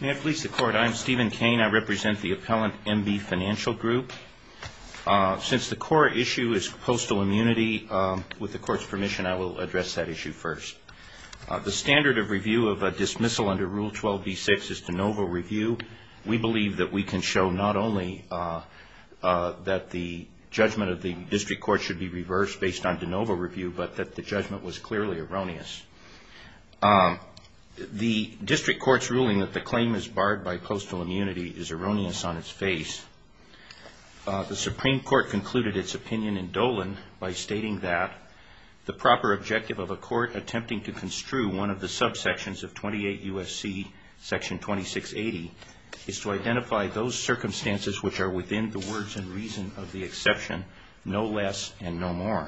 May it please the Court, I am Stephen Cain. I represent the Appellant MB Financial Group. Since the core issue is postal immunity, with the Court's permission I will address that issue first. The standard of review of a dismissal under Rule 12b-6 is de novo review. We believe that we can show not only that the judgment of the District Court should be reversed based on de novo review, but that the judgment was clearly erroneous. The District Court's ruling that the claim is barred by postal immunity is erroneous on its face. The Supreme Court concluded its opinion in Dolan by stating that the proper objective of a court attempting to construe one of the subsections of 28 U.S.C. section 2680 is to identify those circumstances which are within the words and reason of the exception, no less and no more.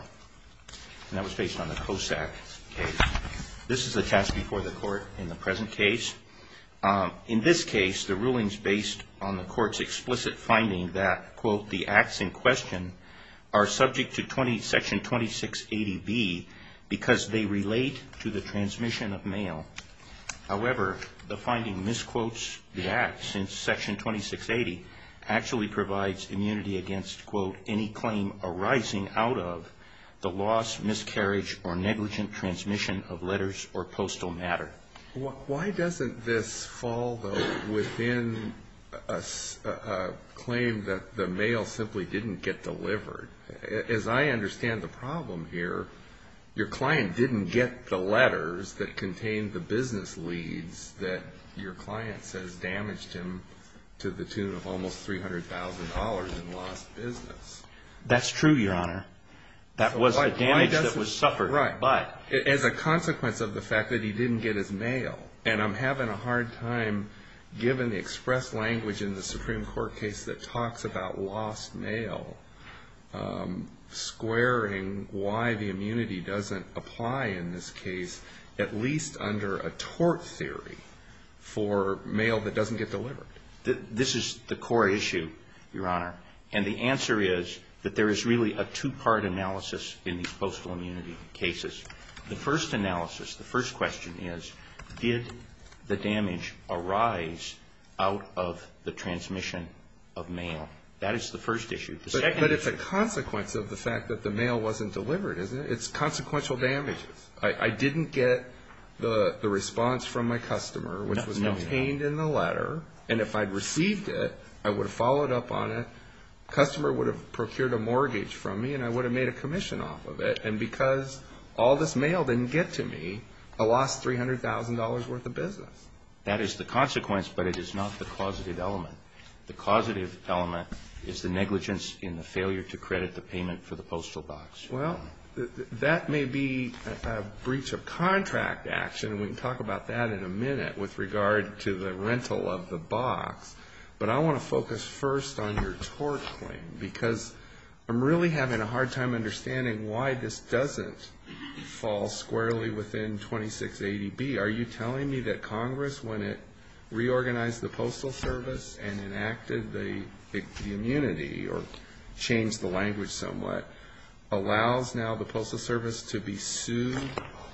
And that was based on the COSAC case. This is the test before the Court in the present case. In this case, the ruling is based on the Court's explicit finding that, quote, the acts in question are subject to section 2680B because they relate to the transmission of mail. However, the finding misquotes the act since section 2680 actually provides immunity against, quote, any claim arising out of the loss, miscarriage, or negligent transmission of letters or postal matter. Why doesn't this fall, though, within a claim that the mail simply didn't get delivered? As I understand the problem here, your client didn't get the letters that contained the business leads that your client says damaged him to the tune of almost $300,000 in lost business. That's true, Your Honor. That was the damage that was suffered. Right. As a consequence of the fact that he didn't get his mail. And I'm having a hard time, given the expressed language in the Supreme Court case that talks about lost mail, squaring why the immunity doesn't apply in this case, at least under a tort theory for mail that doesn't get delivered. This is the core issue, Your Honor. And the answer is that there is really a two-part analysis in these postal immunity cases. The first analysis, the first question is, did the damage arise out of the transmission of mail? That is the first issue. But it's a consequence of the fact that the mail wasn't delivered, isn't it? It's consequential damages. I didn't get the response from my customer, which was contained in the letter. And if I'd received it, I would have followed up on it. The customer would have procured a mortgage from me, and I would have made a commission off of it. And because all this mail didn't get to me, I lost $300,000 worth of business. That is the consequence, but it is not the causative element. The causative element is the negligence in the failure to credit the payment for the postal box. Well, that may be a breach of contract action, and we can talk about that in a minute with regard to the rental of the box. But I want to focus first on your tort claim, because I'm really having a hard time understanding why this doesn't fall squarely within 2680B. Are you telling me that Congress, when it reorganized the Postal Service and enacted the immunity or changed the language somewhat, allows now the Postal Service to be sued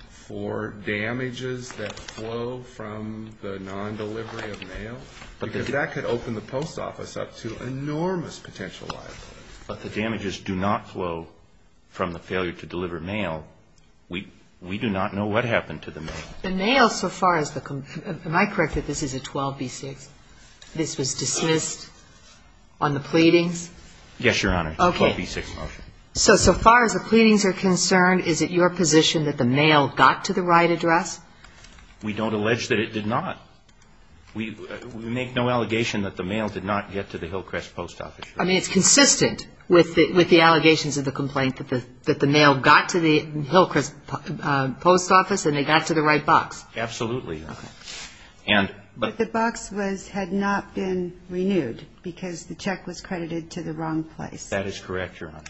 for damages that flow from the non-delivery of mail? Because that could open the post office up to enormous potential liabilities. But the damages do not flow from the failure to deliver mail. We do not know what happened to the mail. The mail, so far as the – am I correct that this is a 12B6? This was dismissed on the pleadings? Yes, Your Honor. Okay. It's a 12B6 motion. So, so far as the pleadings are concerned, is it your position that the mail got to the right address? We don't allege that it did not. We make no allegation that the mail did not get to the Hillcrest Post Office. I mean, it's consistent with the allegations of the complaint that the mail got to the Hillcrest Post Office and they got to the right box. Absolutely, Your Honor. Okay. But the box was – had not been renewed because the check was credited to the wrong place. That is correct, Your Honor.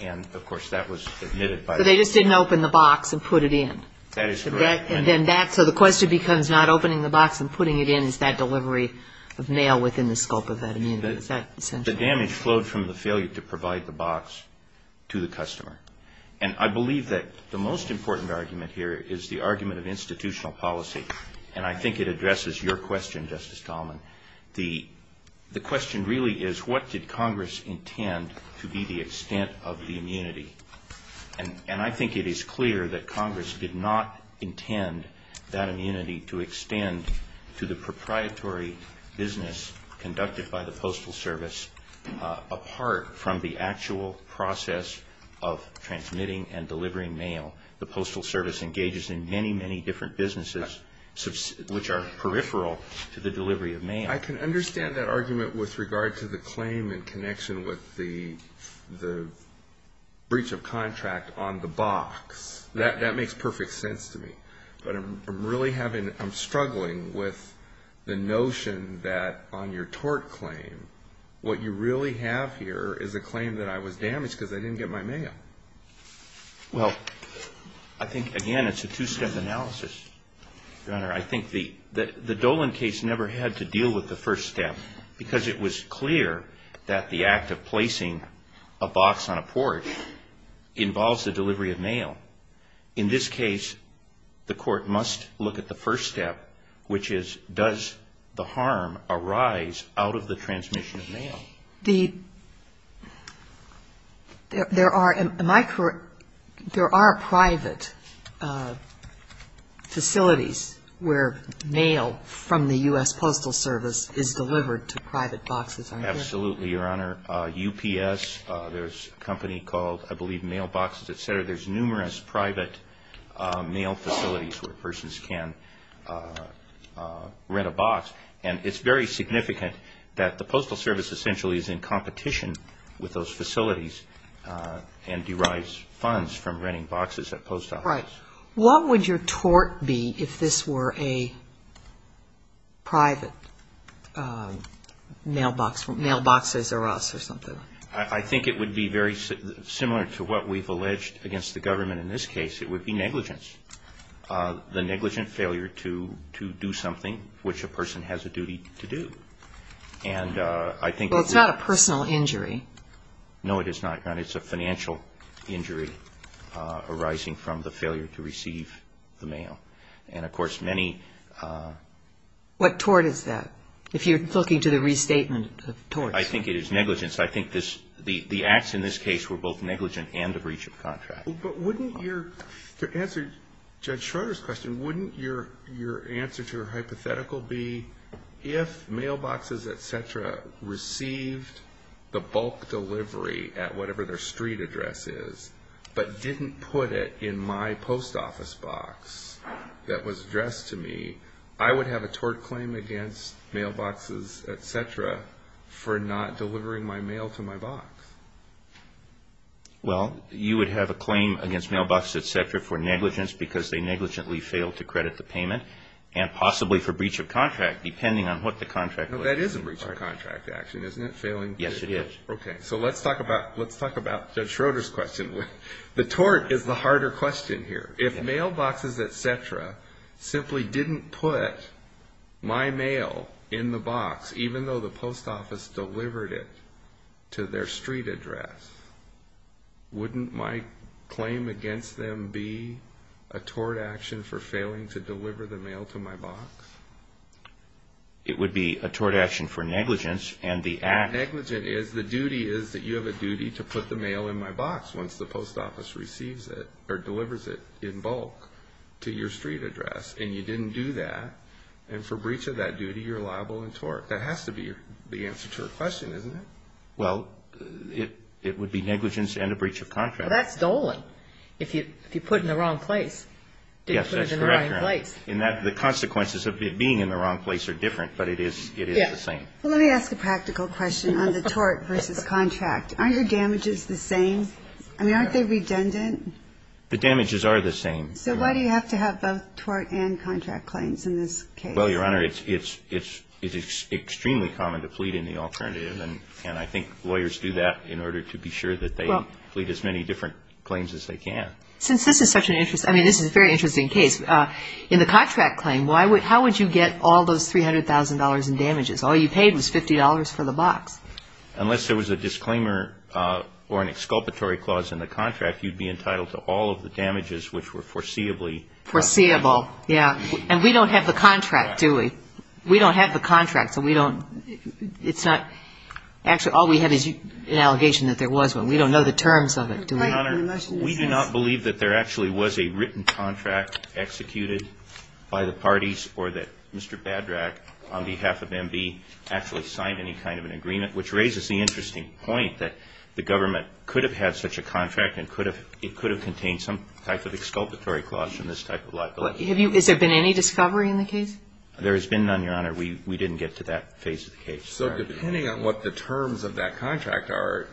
And, of course, that was admitted by the court. So they just didn't open the box and put it in? That is correct. And then that – so the question becomes not opening the box and putting it in, is that delivery of mail within the scope of that immunity? Is that essential? The damage flowed from the failure to provide the box to the customer. And I believe that the most important argument here is the argument of institutional policy, and I think it addresses your question, Justice Tallman. The question really is what did Congress intend to be the extent of the immunity? And I think it is clear that Congress did not intend that immunity to extend to the proprietary business conducted by the Postal Service apart from the actual process of transmitting and delivering mail. The Postal Service engages in many, many different businesses which are peripheral to the delivery of mail. I can understand that argument with regard to the claim in connection with the breach of contract on the box. That makes perfect sense to me. But I'm really having – I'm struggling with the notion that on your tort claim, what you really have here is a claim that I was damaged because I didn't get my mail. Well, I think, again, it's a two-step analysis, Your Honor. I think the Dolan case never had to deal with the first step because it was clear that the act of placing a box on a porch involves the delivery of mail. In this case, the court must look at the first step, which is does the harm arise out of the transmission of mail? The – there are – am I correct? There are private facilities where mail from the U.S. Postal Service is delivered to private boxes, aren't there? Absolutely, Your Honor. UPS, there's a company called, I believe, Mailboxes, et cetera. There's numerous private mail facilities where persons can rent a box. And it's very significant that the Postal Service essentially is in competition with those facilities and derives funds from renting boxes at post offices. Right. What would your tort be if this were a private mailbox, Mailboxes or us or something? I think it would be very similar to what we've alleged against the government in this case. It would be negligence, the negligent failure to do something which a person has a duty to do. And I think it's not a personal injury. No, it is not, Your Honor. It's a financial injury arising from the failure to receive the mail. And, of course, many – What tort is that, if you're looking to the restatement of tort? I think it is negligence. I think the acts in this case were both negligent and a breach of contract. But wouldn't your – to answer Judge Schroeder's question, wouldn't your answer to her hypothetical be, if Mailboxes, et cetera, received the bulk delivery at whatever their street address is but didn't put it in my post office box that was addressed to me, I would have a tort claim against Mailboxes, et cetera, for not delivering my mail to my box? Well, you would have a claim against Mailboxes, et cetera, for negligence because they negligently failed to credit the payment and possibly for breach of contract, depending on what the contract was. That is a breach of contract action, isn't it? Yes, it is. Okay. So let's talk about Judge Schroeder's question. The tort is the harder question here. If Mailboxes, et cetera, simply didn't put my mail in the box, even though the post office delivered it to their street address, wouldn't my claim against them be a tort action for failing to deliver the mail to my box? It would be a tort action for negligence and the act. Negligent is the duty is that you have a duty to put the mail in my box once the post office receives it or delivers it in bulk to your street address, and you didn't do that, and for breach of that duty, you're liable in tort. That has to be the answer to her question, isn't it? Well, it would be negligence and a breach of contract. Well, that's Dolan. If you put it in the wrong place, didn't put it in the right place. Yes, that's correct. And the consequences of it being in the wrong place are different, but it is the same. Yes. Well, let me ask a practical question on the tort versus contract. Aren't your damages the same? I mean, aren't they redundant? The damages are the same. So why do you have to have both tort and contract claims in this case? Well, Your Honor, it's extremely common to plead in the alternative, and I think lawyers do that in order to be sure that they plead as many different claims as they can. Since this is such an interesting case, in the contract claim, how would you get all those $300,000 in damages? All you paid was $50 for the box. Unless there was a disclaimer or an exculpatory clause in the contract, you'd be entitled to all of the damages which were foreseeably. Foreseeable, yeah. And we don't have the contract, do we? We don't have the contract, so we don't. It's not. Actually, all we have is an allegation that there was one. We don't know the terms of it, do we? Your Honor, we do not believe that there actually was a written contract executed by the parties or that Mr. Badrach, on behalf of MB, actually signed any kind of an agreement, which raises the interesting point that the government could have had such a contract and it could have contained some type of exculpatory clause in this type of liability. Has there been any discovery in the case? There has been none, Your Honor. We didn't get to that phase of the case. So depending on what the terms of that contract are,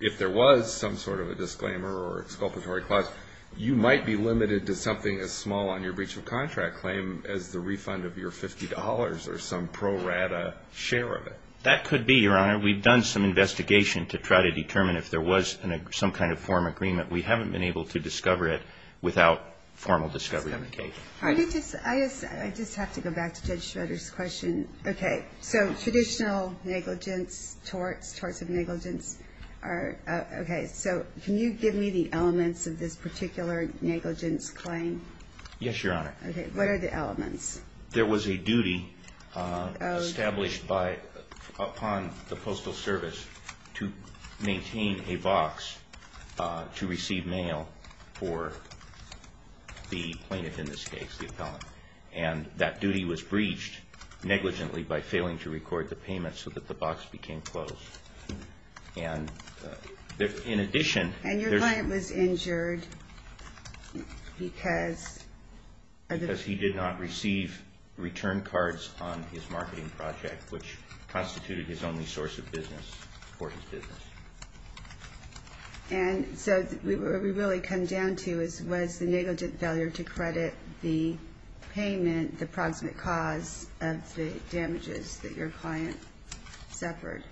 if there was some sort of a disclaimer or exculpatory clause, you might be limited to something as small on your breach of contract claim as the refund of your $50 or some pro rata share of it. That could be, Your Honor. We've done some investigation to try to determine if there was some kind of form agreement. We haven't been able to discover it without formal discovery in the case. I just have to go back to Judge Schroeder's question. Okay. So traditional negligence, torts, torts of negligence are, okay. So can you give me the elements of this particular negligence claim? Yes, Your Honor. Okay. What are the elements? There was a duty established upon the Postal Service to maintain a box to receive mail for the plaintiff in this case, the appellant. And that duty was breached negligently by failing to record the payment so that the box became closed. And in addition. And your client was injured because. Because he did not receive return cards on his marketing project, which constituted his only source of business for his business. And so what we really come down to is was the negligent failure to credit the payment and the proximate cause of the damages that your client suffered.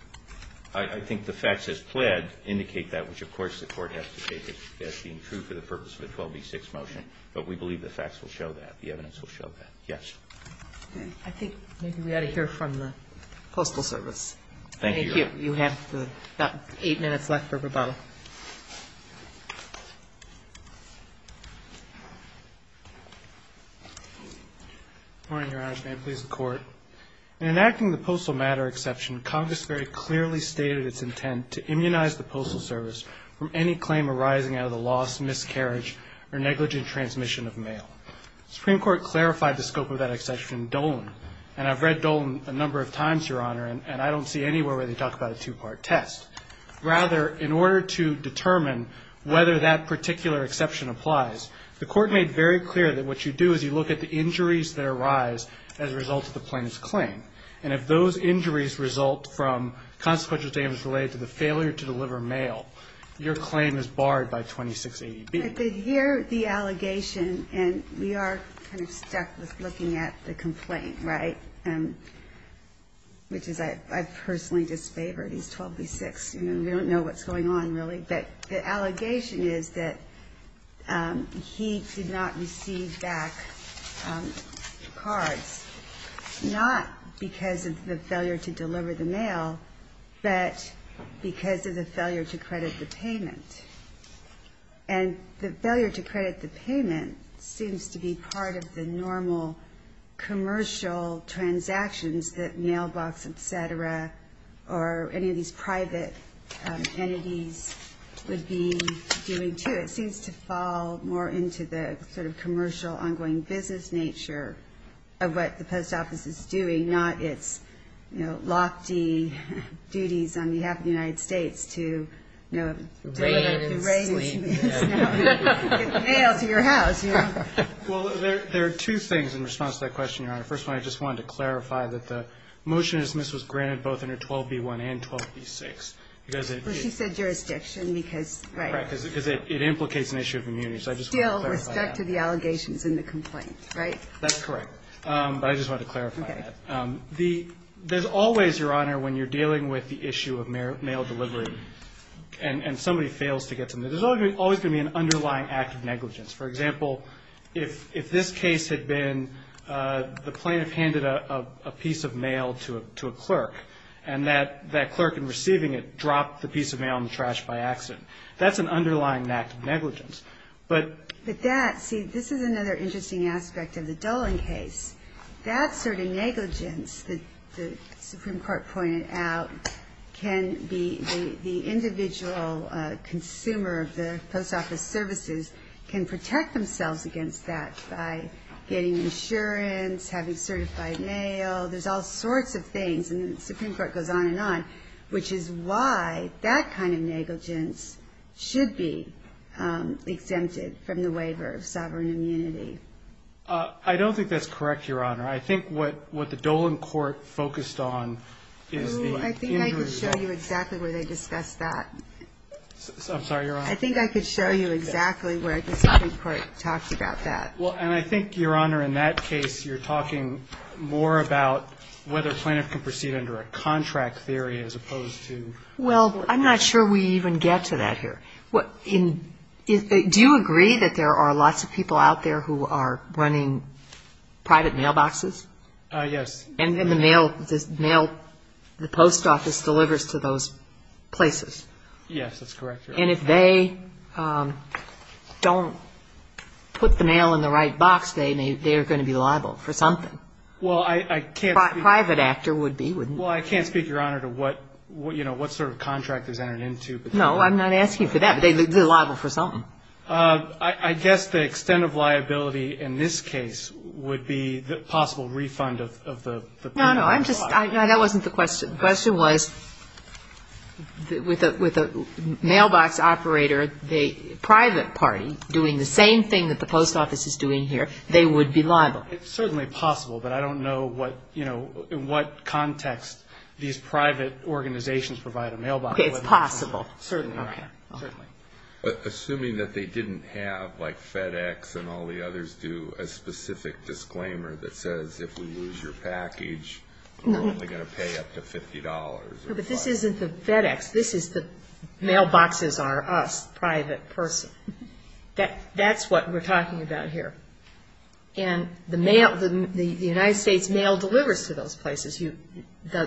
I think the facts as pled indicate that, which of course the Court has to take as being true for the purpose of the 12B6 motion. But we believe the facts will show that. The evidence will show that. Yes. Okay. Thank you, Your Honor. Thank you. You have about eight minutes left for rebuttal. Good morning, Your Honors. May it please the Court. In enacting the Postal Matter Exception, Congress very clearly stated its intent to immunize the Postal Service from any claim arising out of the loss, miscarriage, or negligent transmission of mail. The Supreme Court clarified the scope of that exception in Dolan. And I've read Dolan a number of times, Your Honor, and I don't see anywhere where they talk about a two-part test. Rather, in order to determine whether that particular exception applies, the Court made very clear that what you do is you look at the injuries that arise as a result of the plaintiff's claim. And if those injuries result from consequential damages related to the failure to deliver mail, your claim is barred by 2680B. Here, the allegation, and we are kind of stuck with looking at the complaint, right, which is I personally disfavor. He's 12B6. We don't know what's going on, really. But the allegation is that he did not receive back cards, not because of the failure to deliver the mail, but because of the failure to credit the payment. And the failure to credit the payment seems to be part of the normal commercial transactions that mailbox, et cetera, or any of these private entities would be doing, too. It seems to fall more into the sort of commercial ongoing business nature of what the post office is doing, not its, you know, lofty duties on behalf of the United States to, you know, Rain and sleep. Get the mail to your house, you know. Well, there are two things in response to that question, Your Honor. First of all, I just wanted to clarify that the motion to dismiss was granted both under 12B1 and 12B6. Well, she said jurisdiction because, right. Right, because it implicates an issue of immunity. So I just wanted to clarify that. Still, with respect to the allegations in the complaint, right? That's correct. But I just wanted to clarify that. Okay. There's always, Your Honor, when you're dealing with the issue of mail delivery and somebody fails to get them, there's always going to be an underlying act of negligence. For example, if this case had been the plaintiff handed a piece of mail to a clerk and that clerk in receiving it dropped the piece of mail in the trash by accident, that's an underlying act of negligence. But that, see, this is another interesting aspect of the Dolan case. That sort of negligence that the Supreme Court pointed out can be the individual consumer of the post office services can protect themselves against that by getting insurance, having certified mail, there's all sorts of things. And the Supreme Court goes on and on, which is why that kind of negligence should be exempted from the waiver of sovereign immunity. I don't think that's correct, Your Honor. I think what the Dolan court focused on is the injury. I think I could show you exactly where they discussed that. I'm sorry, Your Honor. I think I could show you exactly where the Supreme Court talked about that. Well, and I think, Your Honor, in that case, you're talking more about whether a plaintiff can proceed under a contract theory as opposed to. Well, I'm not sure we even get to that here. Do you agree that there are lots of people out there who are running private mailboxes? Yes. And then the mail, the mail, the post office delivers to those places. Yes, that's correct, Your Honor. And if they don't put the mail in the right box, they are going to be liable for something. Well, I can't speak. A private actor would be. Well, I can't speak, Your Honor, to what sort of contract is entered into. No, I'm not asking for that, but they're liable for something. I guess the extent of liability in this case would be the possible refund of the. No, no, I'm just. No, that wasn't the question. The question was with a mailbox operator, the private party doing the same thing that the post office is doing here, they would be liable. It's certainly possible, but I don't know what, you know, in what context these private organizations provide a mailbox. It's possible. Certainly, Your Honor. Certainly. Assuming that they didn't have, like FedEx and all the others do, a specific disclaimer that says if we lose your package, we're only going to pay up to $50. No, but this isn't the FedEx. This is the mailboxes are us, private person. That's what we're talking about here. And the mail, the United States mail delivers to those places,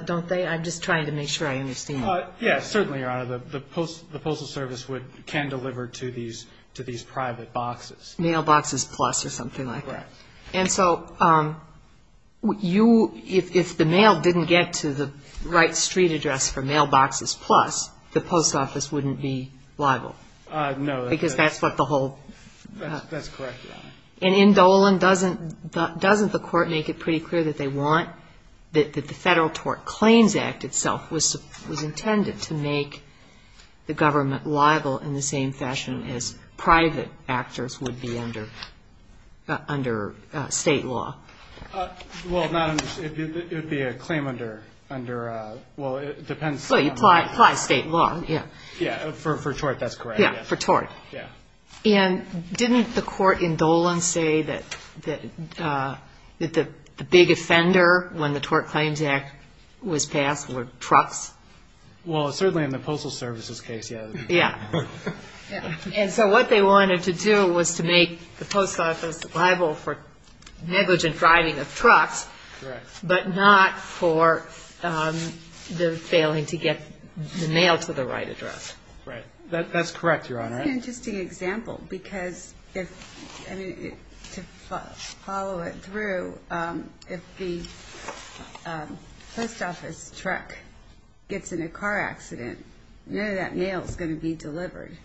don't they? I'm just trying to make sure I understand. Yes, certainly, Your Honor. The Postal Service can deliver to these private boxes. Mailboxes Plus or something like that. Correct. And so you, if the mail didn't get to the right street address for Mailboxes Plus, the post office wouldn't be liable. No. Because that's what the whole. That's correct, Your Honor. And in Dolan, doesn't the Court make it pretty clear that they want, that the Federal Tort Claims Act itself was intended to make the government liable in the same fashion as private actors would be under state law? Well, not under, it would be a claim under, well, it depends. Well, you apply state law, yeah. Yeah, for tort, that's correct. Yeah, for tort. Yeah. And didn't the Court in Dolan say that the big offender when the Tort Claims Act was passed were trucks? Well, certainly in the Postal Service's case, yeah. Yeah. And so what they wanted to do was to make the post office liable for negligent driving of trucks. Correct. But not for the failing to get the mail to the right address. Right. That's correct, Your Honor. That's an interesting example because if, I mean, to follow it through, if the post office truck gets in a car accident, none of that mail is going to be delivered.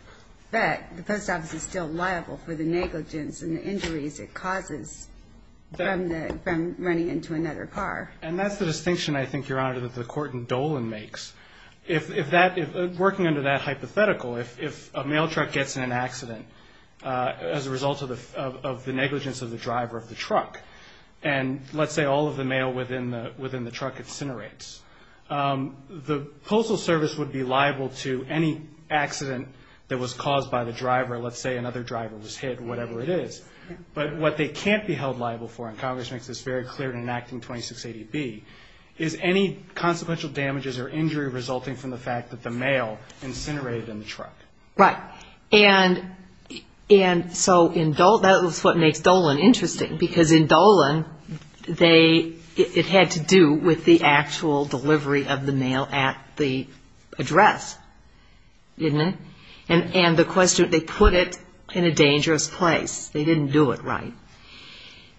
But the post office is still liable for the negligence and the injuries it causes from running into another car. And that's the distinction, I think, Your Honor, that the Court in Dolan makes. If that, working under that hypothetical, if a mail truck gets in an accident as a result of the negligence of the driver of the truck, and let's say all of the mail within the truck incinerates, the Postal Service would be liable to any accident that was caused by the driver. Let's say another driver was hit, whatever it is. But what they can't be held liable for, and Congress makes this very clear in enacting 2680B, is any consequential damages or injury resulting from the fact that the mail incinerated in the truck. Right. And so that's what makes Dolan interesting, because in Dolan it had to do with the actual delivery of the mail at the address, didn't it? And the question, they put it in a dangerous place. They didn't do it right.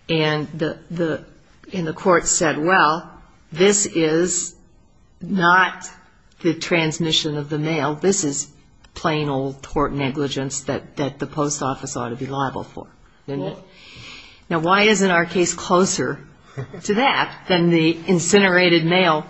And the Court said, well, this is not the transmission of the mail. This is plain old tort negligence that the Post Office ought to be liable for. Now, why isn't our case closer to that than the incinerated mail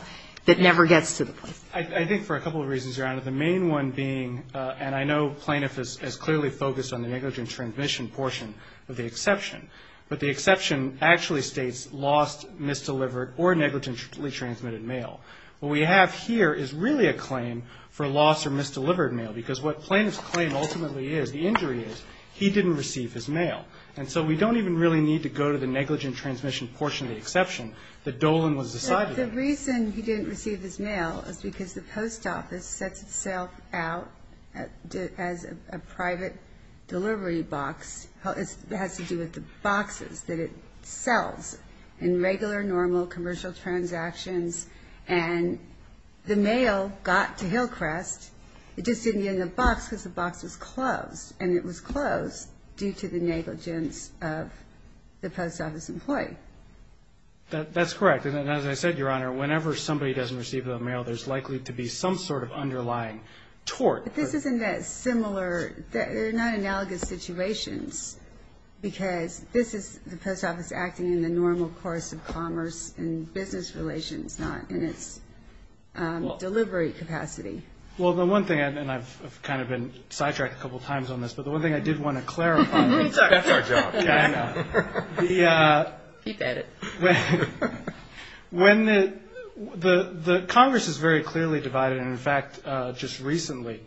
that never gets to the Post? I think for a couple of reasons, Your Honor, the main one being, and I know plaintiff has clearly focused on the negligence transmission portion of the exception, but the exception actually states lost, misdelivered, or negligently transmitted mail. What we have here is really a claim for lost or misdelivered mail, because what plaintiff's claim ultimately is, the injury is, he didn't receive his mail. And so we don't even really need to go to the negligence transmission portion of the exception that Dolan was assigned. The reason he didn't receive his mail is because the Post Office sets itself out as a private delivery box. It has to do with the boxes that it sells in regular, normal, commercial transactions. And the mail got to Hillcrest. It just didn't get in the box because the box was closed, and it was closed due to the negligence of the Post Office employee. That's correct. And as I said, Your Honor, whenever somebody doesn't receive their mail, there's likely to be some sort of underlying tort. But this isn't that similar. They're not analogous situations, because this is the Post Office acting in the normal course of commerce and business relations, not in its delivery capacity. Well, the one thing, and I've kind of been sidetracked a couple times on this, but the one thing I did want to clarify. That's our job. I know. Keep at it. When the Congress is very clearly divided, and in fact just recently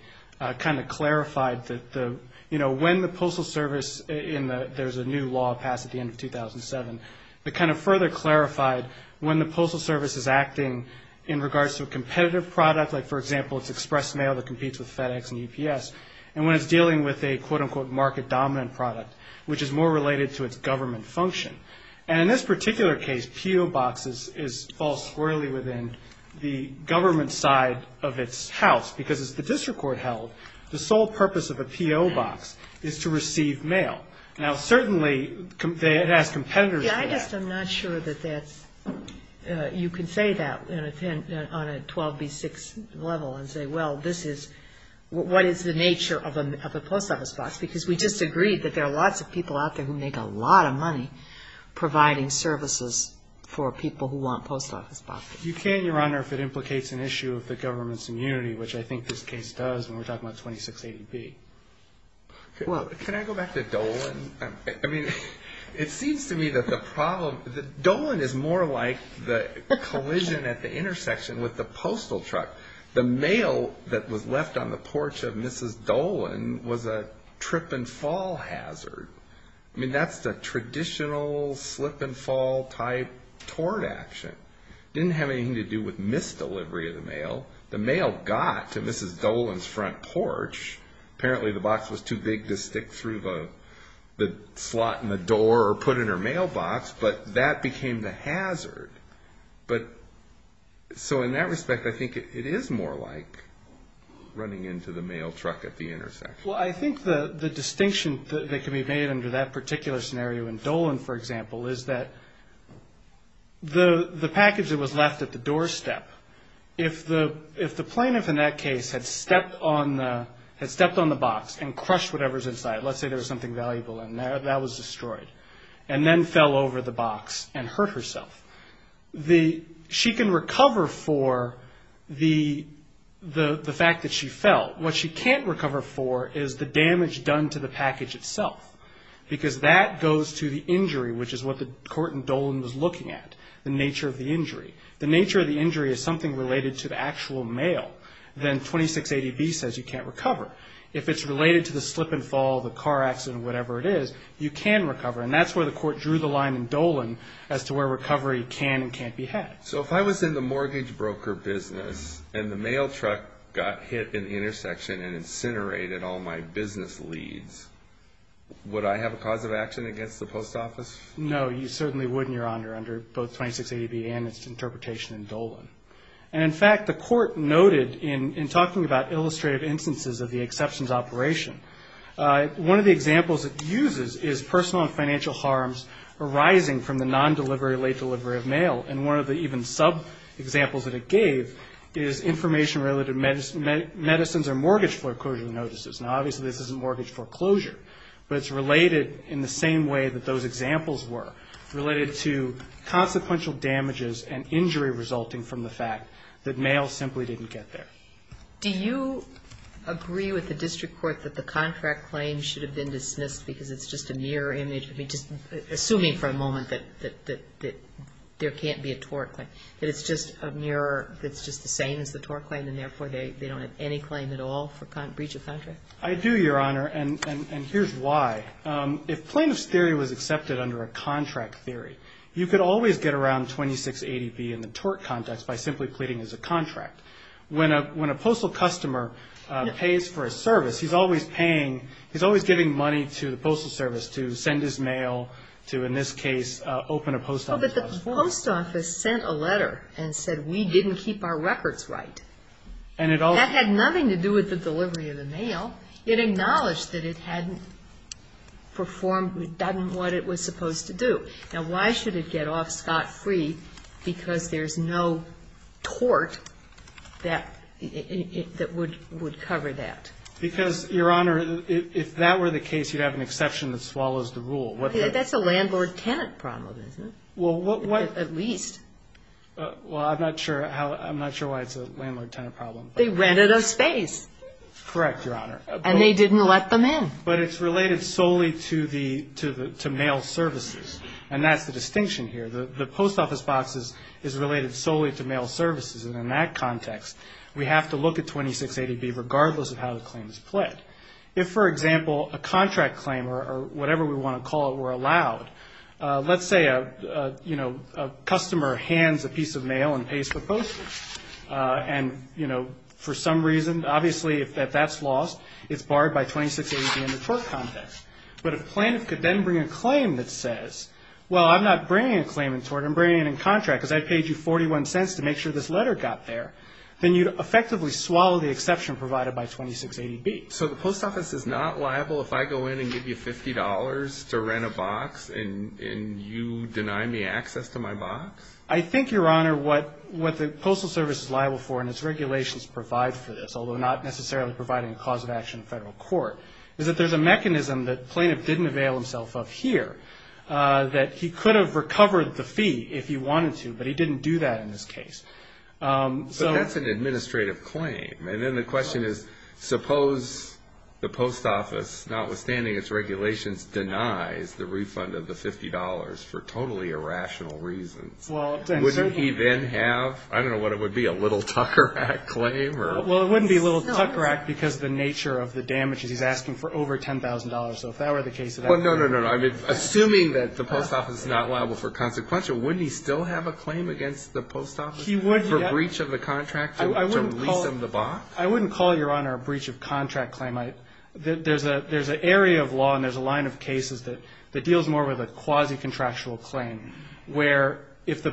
kind of clarified that the, you know, when the Postal Service, and there's a new law passed at the end of 2007, that kind of further clarified when the Postal Service is acting in regards to a competitive product, like, for example, it's express mail that competes with FedEx and UPS, and when it's dealing with a, quote, unquote, market-dominant product, which is more related to its government function. And in this particular case, P.O. Box is false squarely within the government side of its house, because as the district court held, the sole purpose of a P.O. Box is to receive mail. Now, certainly it has competitors for that. Yeah, I just am not sure that that's, you can say that on a 12B6 level and say, well, this is, what is the nature of a Post Office Box? Because we just agreed that there are lots of people out there who make a lot of money providing services for people who want Post Office Boxes. You can, Your Honor, if it implicates an issue of the government's immunity, which I think this case does when we're talking about 2680B. Well, can I go back to Dolan? I mean, it seems to me that the problem, Dolan is more like the collision at the intersection with the postal truck. The mail that was left on the porch of Mrs. Dolan was a trip and fall hazard. I mean, that's the traditional slip and fall type tort action. It didn't have anything to do with misdelivery of the mail. The mail got to Mrs. Dolan's front porch. Apparently the box was too big to stick through the slot in the door or put in her mailbox, but that became the hazard. So in that respect, I think it is more like running into the mail truck at the intersection. Well, I think the distinction that can be made under that particular scenario in Dolan, for example, is that the package that was left at the doorstep, if the plaintiff in that case had stepped on the box and crushed whatever was inside, let's say there was something valuable in there, that was destroyed, and then fell over the box and hurt herself. She can recover for the fact that she fell. What she can't recover for is the damage done to the package itself, because that goes to the injury, which is what the court in Dolan was looking at, the nature of the injury. The nature of the injury is something related to the actual mail. Then 2680B says you can't recover. If it's related to the slip and fall, the car accident, whatever it is, you can recover, and that's where the court drew the line in Dolan as to where recovery can and can't be had. So if I was in the mortgage broker business and the mail truck got hit in the intersection and incinerated all my business leads, would I have a cause of action against the post office? No, you certainly wouldn't, Your Honor, under both 2680B and its interpretation in Dolan. And in fact, the court noted in talking about illustrative instances of the exceptions operation, one of the examples it uses is personal and financial harms arising from the non-delivery, late delivery of mail. And one of the even sub-examples that it gave is information-related medicines or mortgage foreclosure notices. Now, obviously this isn't mortgage foreclosure, but it's related in the same way that those examples were, related to consequential damages and injury resulting from the fact that mail simply didn't get there. Do you agree with the district court that the contract claim should have been dismissed because it's just a mirror image? I mean, just assuming for a moment that there can't be a tort claim, that it's just a mirror that's just the same as the tort claim and therefore they don't have any claim at all for breach of contract? I do, Your Honor, and here's why. If plaintiff's theory was accepted under a contract theory, you could always get around 2680B in the tort context by simply pleading as a contract. When a postal customer pays for a service, he's always paying, he's always giving money to the postal service to send his mail, to, in this case, open a post office. But the post office sent a letter and said we didn't keep our records right. And it also... That had nothing to do with the delivery of the mail. It acknowledged that it hadn't performed, done what it was supposed to do. Now, why should it get off scot-free? Because there's no tort that would cover that. Because, Your Honor, if that were the case, you'd have an exception that swallows the rule. That's a landlord-tenant problem, isn't it? Well, what... At least. Well, I'm not sure how, I'm not sure why it's a landlord-tenant problem. They rented a space. Correct, Your Honor. And they didn't let them in. But it's related solely to mail services. And that's the distinction here. The post office box is related solely to mail services. And in that context, we have to look at 2680B regardless of how the claim is pled. If, for example, a contract claim or whatever we want to call it were allowed, let's say a customer hands a piece of mail and pays for postage. And, you know, for some reason, obviously if that's lost, it's barred by 2680B in the tort context. But if a plaintiff could then bring a claim that says, well, I'm not bringing a claim in tort, I'm bringing it in contract, because I paid you 41 cents to make sure this letter got there, then you'd effectively swallow the exception provided by 2680B. So the post office is not liable if I go in and give you $50 to rent a box and you deny me access to my box? I think, Your Honor, what the Postal Service is liable for and its regulations provide for this, although not necessarily providing a cause of action in federal court, is that there's a mechanism that the plaintiff didn't avail himself of here, that he could have recovered the fee if he wanted to, but he didn't do that in this case. But that's an administrative claim. And then the question is, suppose the post office, notwithstanding its regulations, denies the refund of the $50 for totally irrational reasons. Wouldn't he then have, I don't know what it would be, a little tucker act claim? Well, it wouldn't be a little tucker act because of the nature of the damages. He's asking for over $10,000. So if that were the case of that claim. Well, no, no, no. Assuming that the post office is not liable for consequential, wouldn't he still have a claim against the post office for breach of the contract to lease him the box? I wouldn't call, Your Honor, a breach of contract claim. There's an area of law and there's a line of cases that deals more with a quasi-contractual claim where if the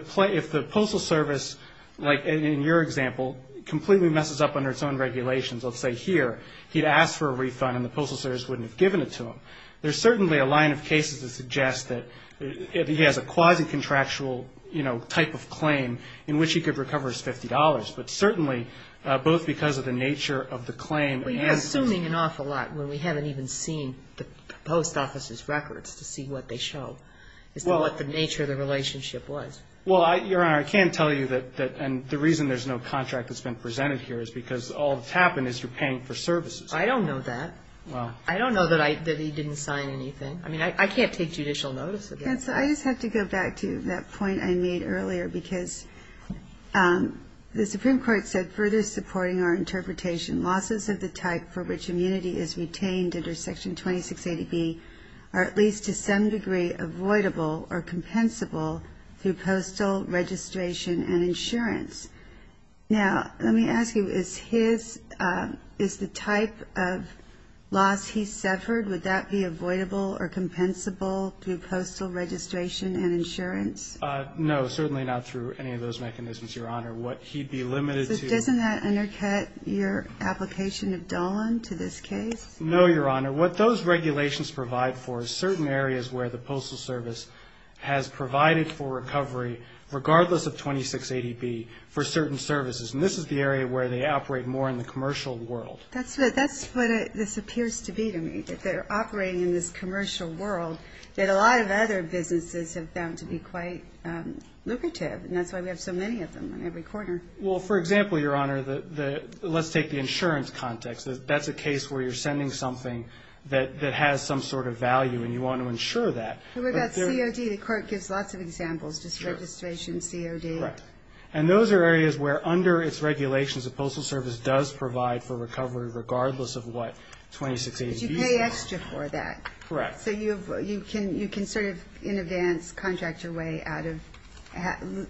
postal service, like in your example, completely messes up under its own regulations, let's say here, he'd ask for a refund and the postal service wouldn't have given it to him. There's certainly a line of cases that suggest that he has a quasi-contractual, you know, type of claim in which he could recover his $50. But certainly, both because of the nature of the claim. Well, you're assuming an awful lot when we haven't even seen the post office's records to see what they show as to what the nature of the relationship was. Well, Your Honor, I can tell you that the reason there's no contract that's been presented here is because all that's happened is you're paying for services. I don't know that. Well. I don't know that he didn't sign anything. I mean, I can't take judicial notice of that. I just have to go back to that point I made earlier because the Supreme Court said, Now, let me ask you, is his – is the type of loss he suffered, would that be avoidable or compensable through postal registration and insurance? No, certainly not through any of those mechanisms, Your Honor. What he'd be limited to. It doesn't have to be a type of loss. Doesn't that undercut your application of Dolan to this case? No, Your Honor. What those regulations provide for is certain areas where the postal service has provided for recovery, regardless of 2680B, for certain services. And this is the area where they operate more in the commercial world. That's what this appears to be to me, that they're operating in this commercial world that a lot of other businesses have found to be quite lucrative. And that's why we have so many of them in every corner. Well, for example, Your Honor, let's take the insurance context. That's a case where you're sending something that has some sort of value and you want to insure that. What about COD? The Court gives lots of examples, just registration, COD. Correct. And those are areas where under its regulations, the postal service does provide for recovery regardless of what 2680B is. But you pay extra for that. Correct. So you can sort of in advance contract your way out of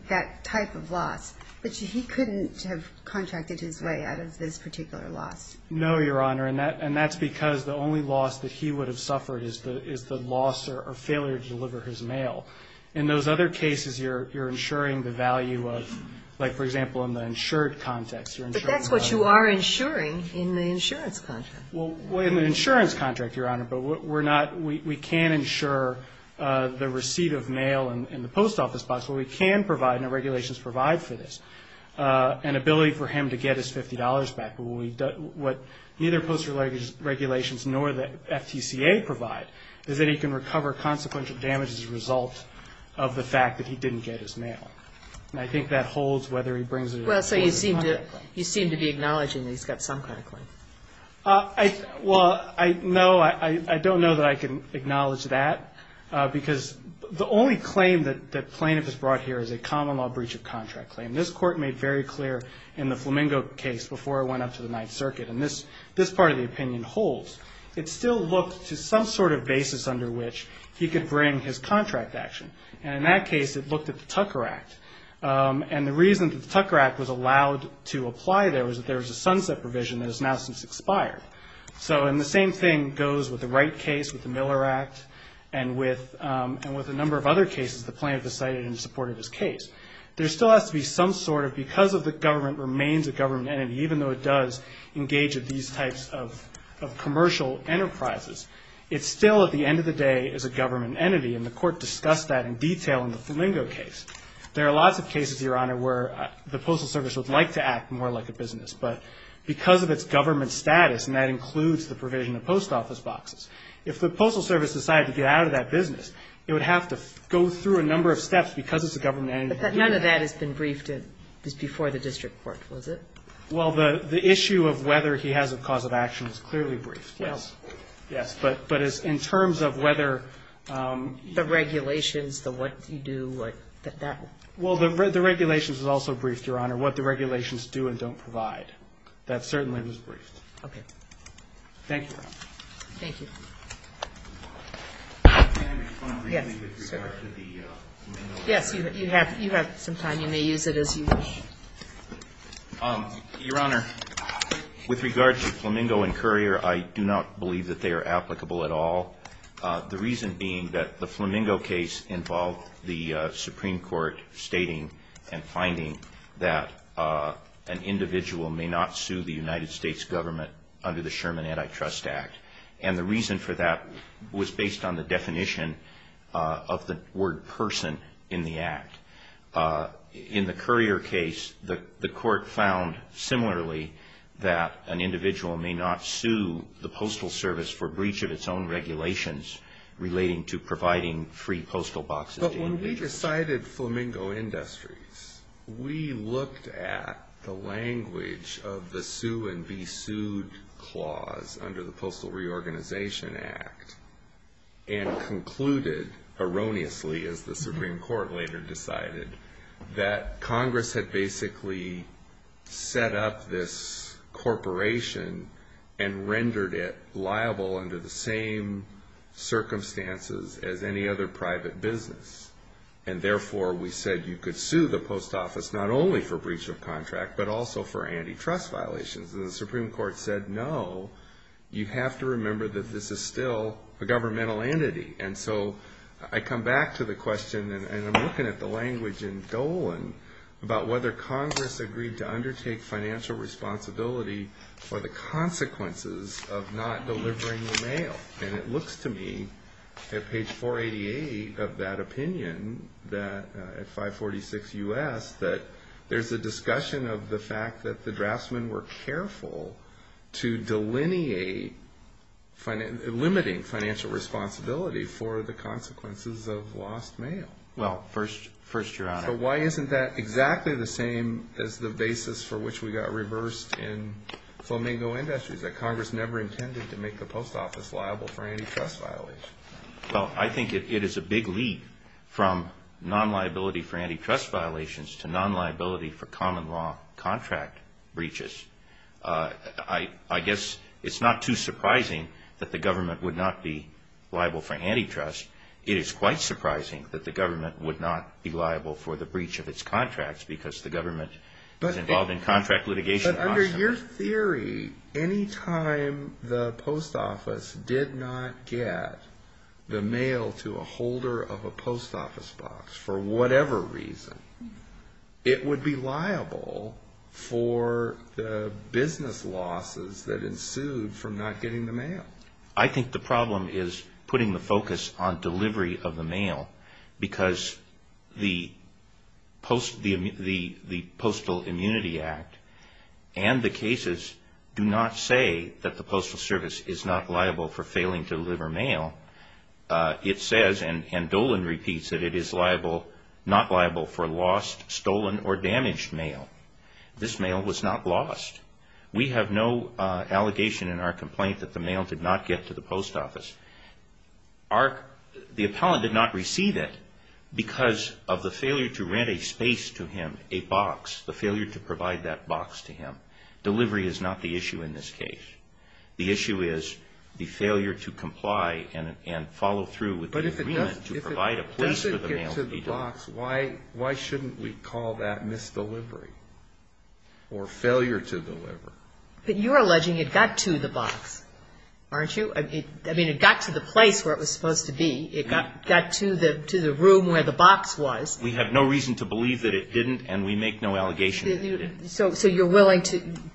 that type of loss. But he couldn't have contracted his way out of this particular loss. No, Your Honor, and that's because the only loss that he would have suffered is the loss or failure to deliver his mail. In those other cases, you're insuring the value of, like, for example, in the insured context. But that's what you are insuring in the insurance contract. Well, in the insurance contract, Your Honor, but we're not we can insure the receipt of mail in the post office box where we can provide, and the regulations provide for this, an ability for him to get his $50 back. What neither postal regulations nor the FTCA provide is that he can recover consequential damages as a result of the fact that he didn't get his mail. And I think that holds whether he brings it or not. Well, so you seem to be acknowledging that he's got some kind of claim. Well, I don't know that I can acknowledge that because the only claim that plaintiff has brought here is a common law breach of contract claim. This Court made very clear in the Flamingo case before it went up to the Ninth Circuit, and this part of the opinion holds. It still looked to some sort of basis under which he could bring his contract action. And in that case, it looked at the Tucker Act. And the reason that the Tucker Act was allowed to apply there was that there was a sunset provision that has now since expired. So, and the same thing goes with the Wright case, with the Miller Act, and with a number of other cases the plaintiff has cited in support of his case. There still has to be some sort of, because the government remains a government entity, even though it does engage in these types of commercial enterprises, it still, at the end of the day, is a government entity. And the Court discussed that in detail in the Flamingo case. There are lots of cases, Your Honor, where the Postal Service would like to act more like a business. But because of its government status, and that includes the provision of post office boxes, if the Postal Service decided to get out of that business, it would have to go through a number of steps because it's a government entity. But none of that has been briefed before the district court, was it? Well, the issue of whether he has a cause of action is clearly briefed, yes. Well. Yes. But in terms of whether the regulations, the what you do, like that. Well, the regulations was also briefed, Your Honor, what the regulations do and don't provide. That certainly was briefed. Thank you, Your Honor. Thank you. Can I respond briefly with regard to the Flamingo case? Yes, you have some time. You may use it as you wish. Your Honor, with regard to Flamingo and Currier, I do not believe that they are applicable at all. The reason being that the Flamingo case involved the Supreme Court stating and finding that an individual may not sue the United States government under the Sherman Antitrust Act. And the reason for that was based on the definition of the word person in the act. In the Currier case, the court found similarly that an individual may not sue the Postal Service for breach of its own regulations relating to providing free postal boxes to individuals. When we decided Flamingo Industries, we looked at the language of the sue and be sued clause under the Postal Reorganization Act and concluded erroneously, as the Supreme Court later decided, that Congress had basically set up this corporation and rendered it liable under the same circumstances as any other private business. And therefore, we said you could sue the post office not only for breach of contract, but also for antitrust violations. And the Supreme Court said, no, you have to remember that this is still a governmental entity. And so I come back to the question, and I'm looking at the language in Dolan, about whether Congress agreed to undertake financial responsibility for the consequences of not delivering the mail. And it looks to me, at page 488 of that opinion, that at 546 U.S., that there's a discussion of the fact that the draftsmen were careful to delineate limiting financial responsibility for the consequences of lost mail. Well, first you're out. So why isn't that exactly the same as the basis for which we got reversed in Flamingo Industries, that Congress never intended to make the post office liable for antitrust violations? Well, I think it is a big leap from non-liability for antitrust violations to non-liability for common law contract breaches. I guess it's not too surprising that the government would not be liable for antitrust. It is quite surprising that the government would not be liable for the breach of its contracts because the government is involved in contract litigation. But under your theory, any time the post office did not get the mail to a holder of a post office box, for whatever reason, it would be liable for the business losses that ensued from not getting the mail. I think the problem is putting the focus on delivery of the mail because the Postal Immunity Act and the cases do not say that the Postal Service is not liable for failing to deliver mail. It says, and Dolan repeats, that it is not liable for lost, stolen, or damaged mail. This mail was not lost. We have no allegation in our complaint that the mail did not get to the post office. The appellant did not receive it because of the failure to rent a space to him, a box, the failure to provide that box to him. Delivery is not the issue in this case. The issue is the failure to comply and follow through with the agreement to provide a place for the mail to be delivered. But if it doesn't get to the box, why shouldn't we call that misdelivery or failure to deliver? But you're alleging it got to the box, aren't you? I mean, it got to the place where it was supposed to be. It got to the room where the box was. We have no reason to believe that it didn't, and we make no allegation that it didn't. So you're willing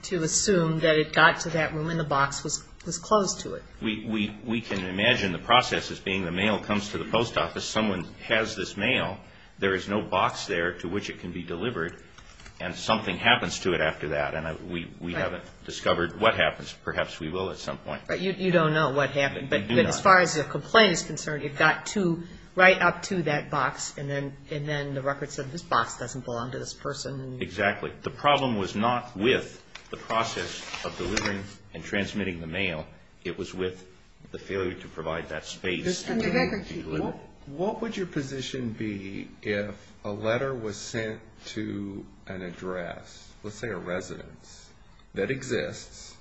to assume that it got to that room and the box was closed to it. We can imagine the process as being the mail comes to the post office. Someone has this mail. There is no box there to which it can be delivered, and something happens to it after that, and we haven't discovered what happens. Perhaps we will at some point. But you don't know what happened. But as far as the complaint is concerned, it got to right up to that box, and then the records said this box doesn't belong to this person. Exactly. The problem was not with the process of delivering and transmitting the mail. It was with the failure to provide that space. Mr. McGregor, what would your position be if a letter was sent to an address, let's say a residence, that exists,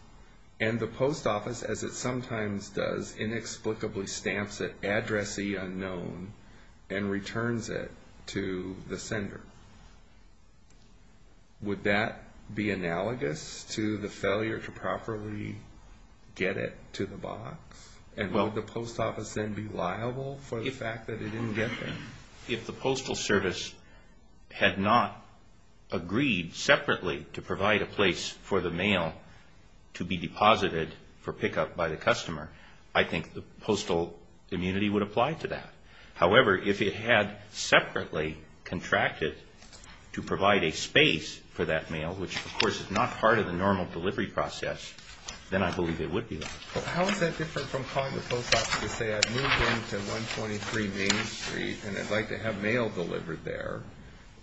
and the post office, as it sometimes does, inexplicably stamps it, Address E Unknown, and returns it to the sender? Would that be analogous to the failure to properly get it to the box, and would the post office then be liable for the fact that it didn't get there? If the postal service had not agreed separately to provide a place for the mail to be deposited for pickup by the customer, I think the postal immunity would apply to that. However, if it had separately contracted to provide a space for that mail, which, of course, is not part of the normal delivery process, then I believe it would be. How is that different from calling the post office to say, I've moved into 123 Main Street, and I'd like to have mail delivered there,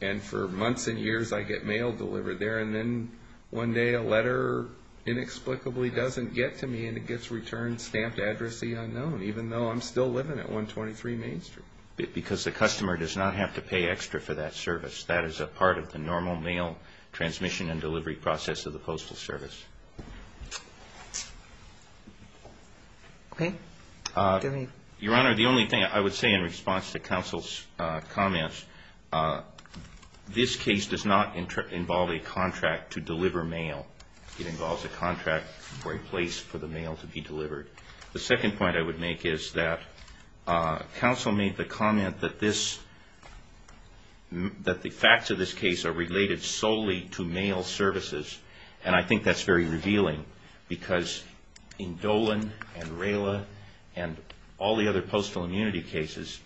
and for months and years I get mail delivered there, and then one day a letter inexplicably doesn't get to me and it gets returned, stamped Address E Unknown, even though I'm still living at 123 Main Street? Because the customer does not have to pay extra for that service. That is a part of the normal mail transmission and delivery process of the postal service. Okay. Your Honor, the only thing I would say in response to counsel's comments, this case does not involve a contract to deliver mail. It involves a contract for a place for the mail to be delivered. The second point I would make is that counsel made the comment that this, that the facts of this case are related solely to mail services, and I think that's very revealing because in Dolan and Rayla and all the other postal immunity cases,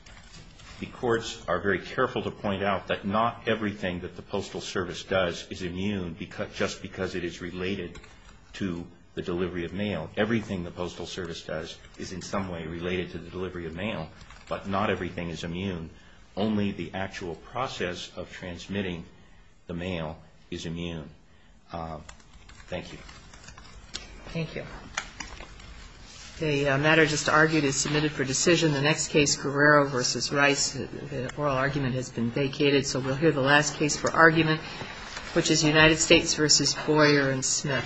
the courts are very careful to point out that not everything that the postal service does is immune just because it is related to the delivery of mail. Everything the postal service does is in some way related to the delivery of mail, but not everything is immune. Only the actual process of transmitting the mail is immune. Thank you. Thank you. The matter just argued is submitted for decision. The next case, Guerrero v. Rice, the oral argument has been vacated, so we'll hear the last case for argument, which is United States v. Boyer and Smith.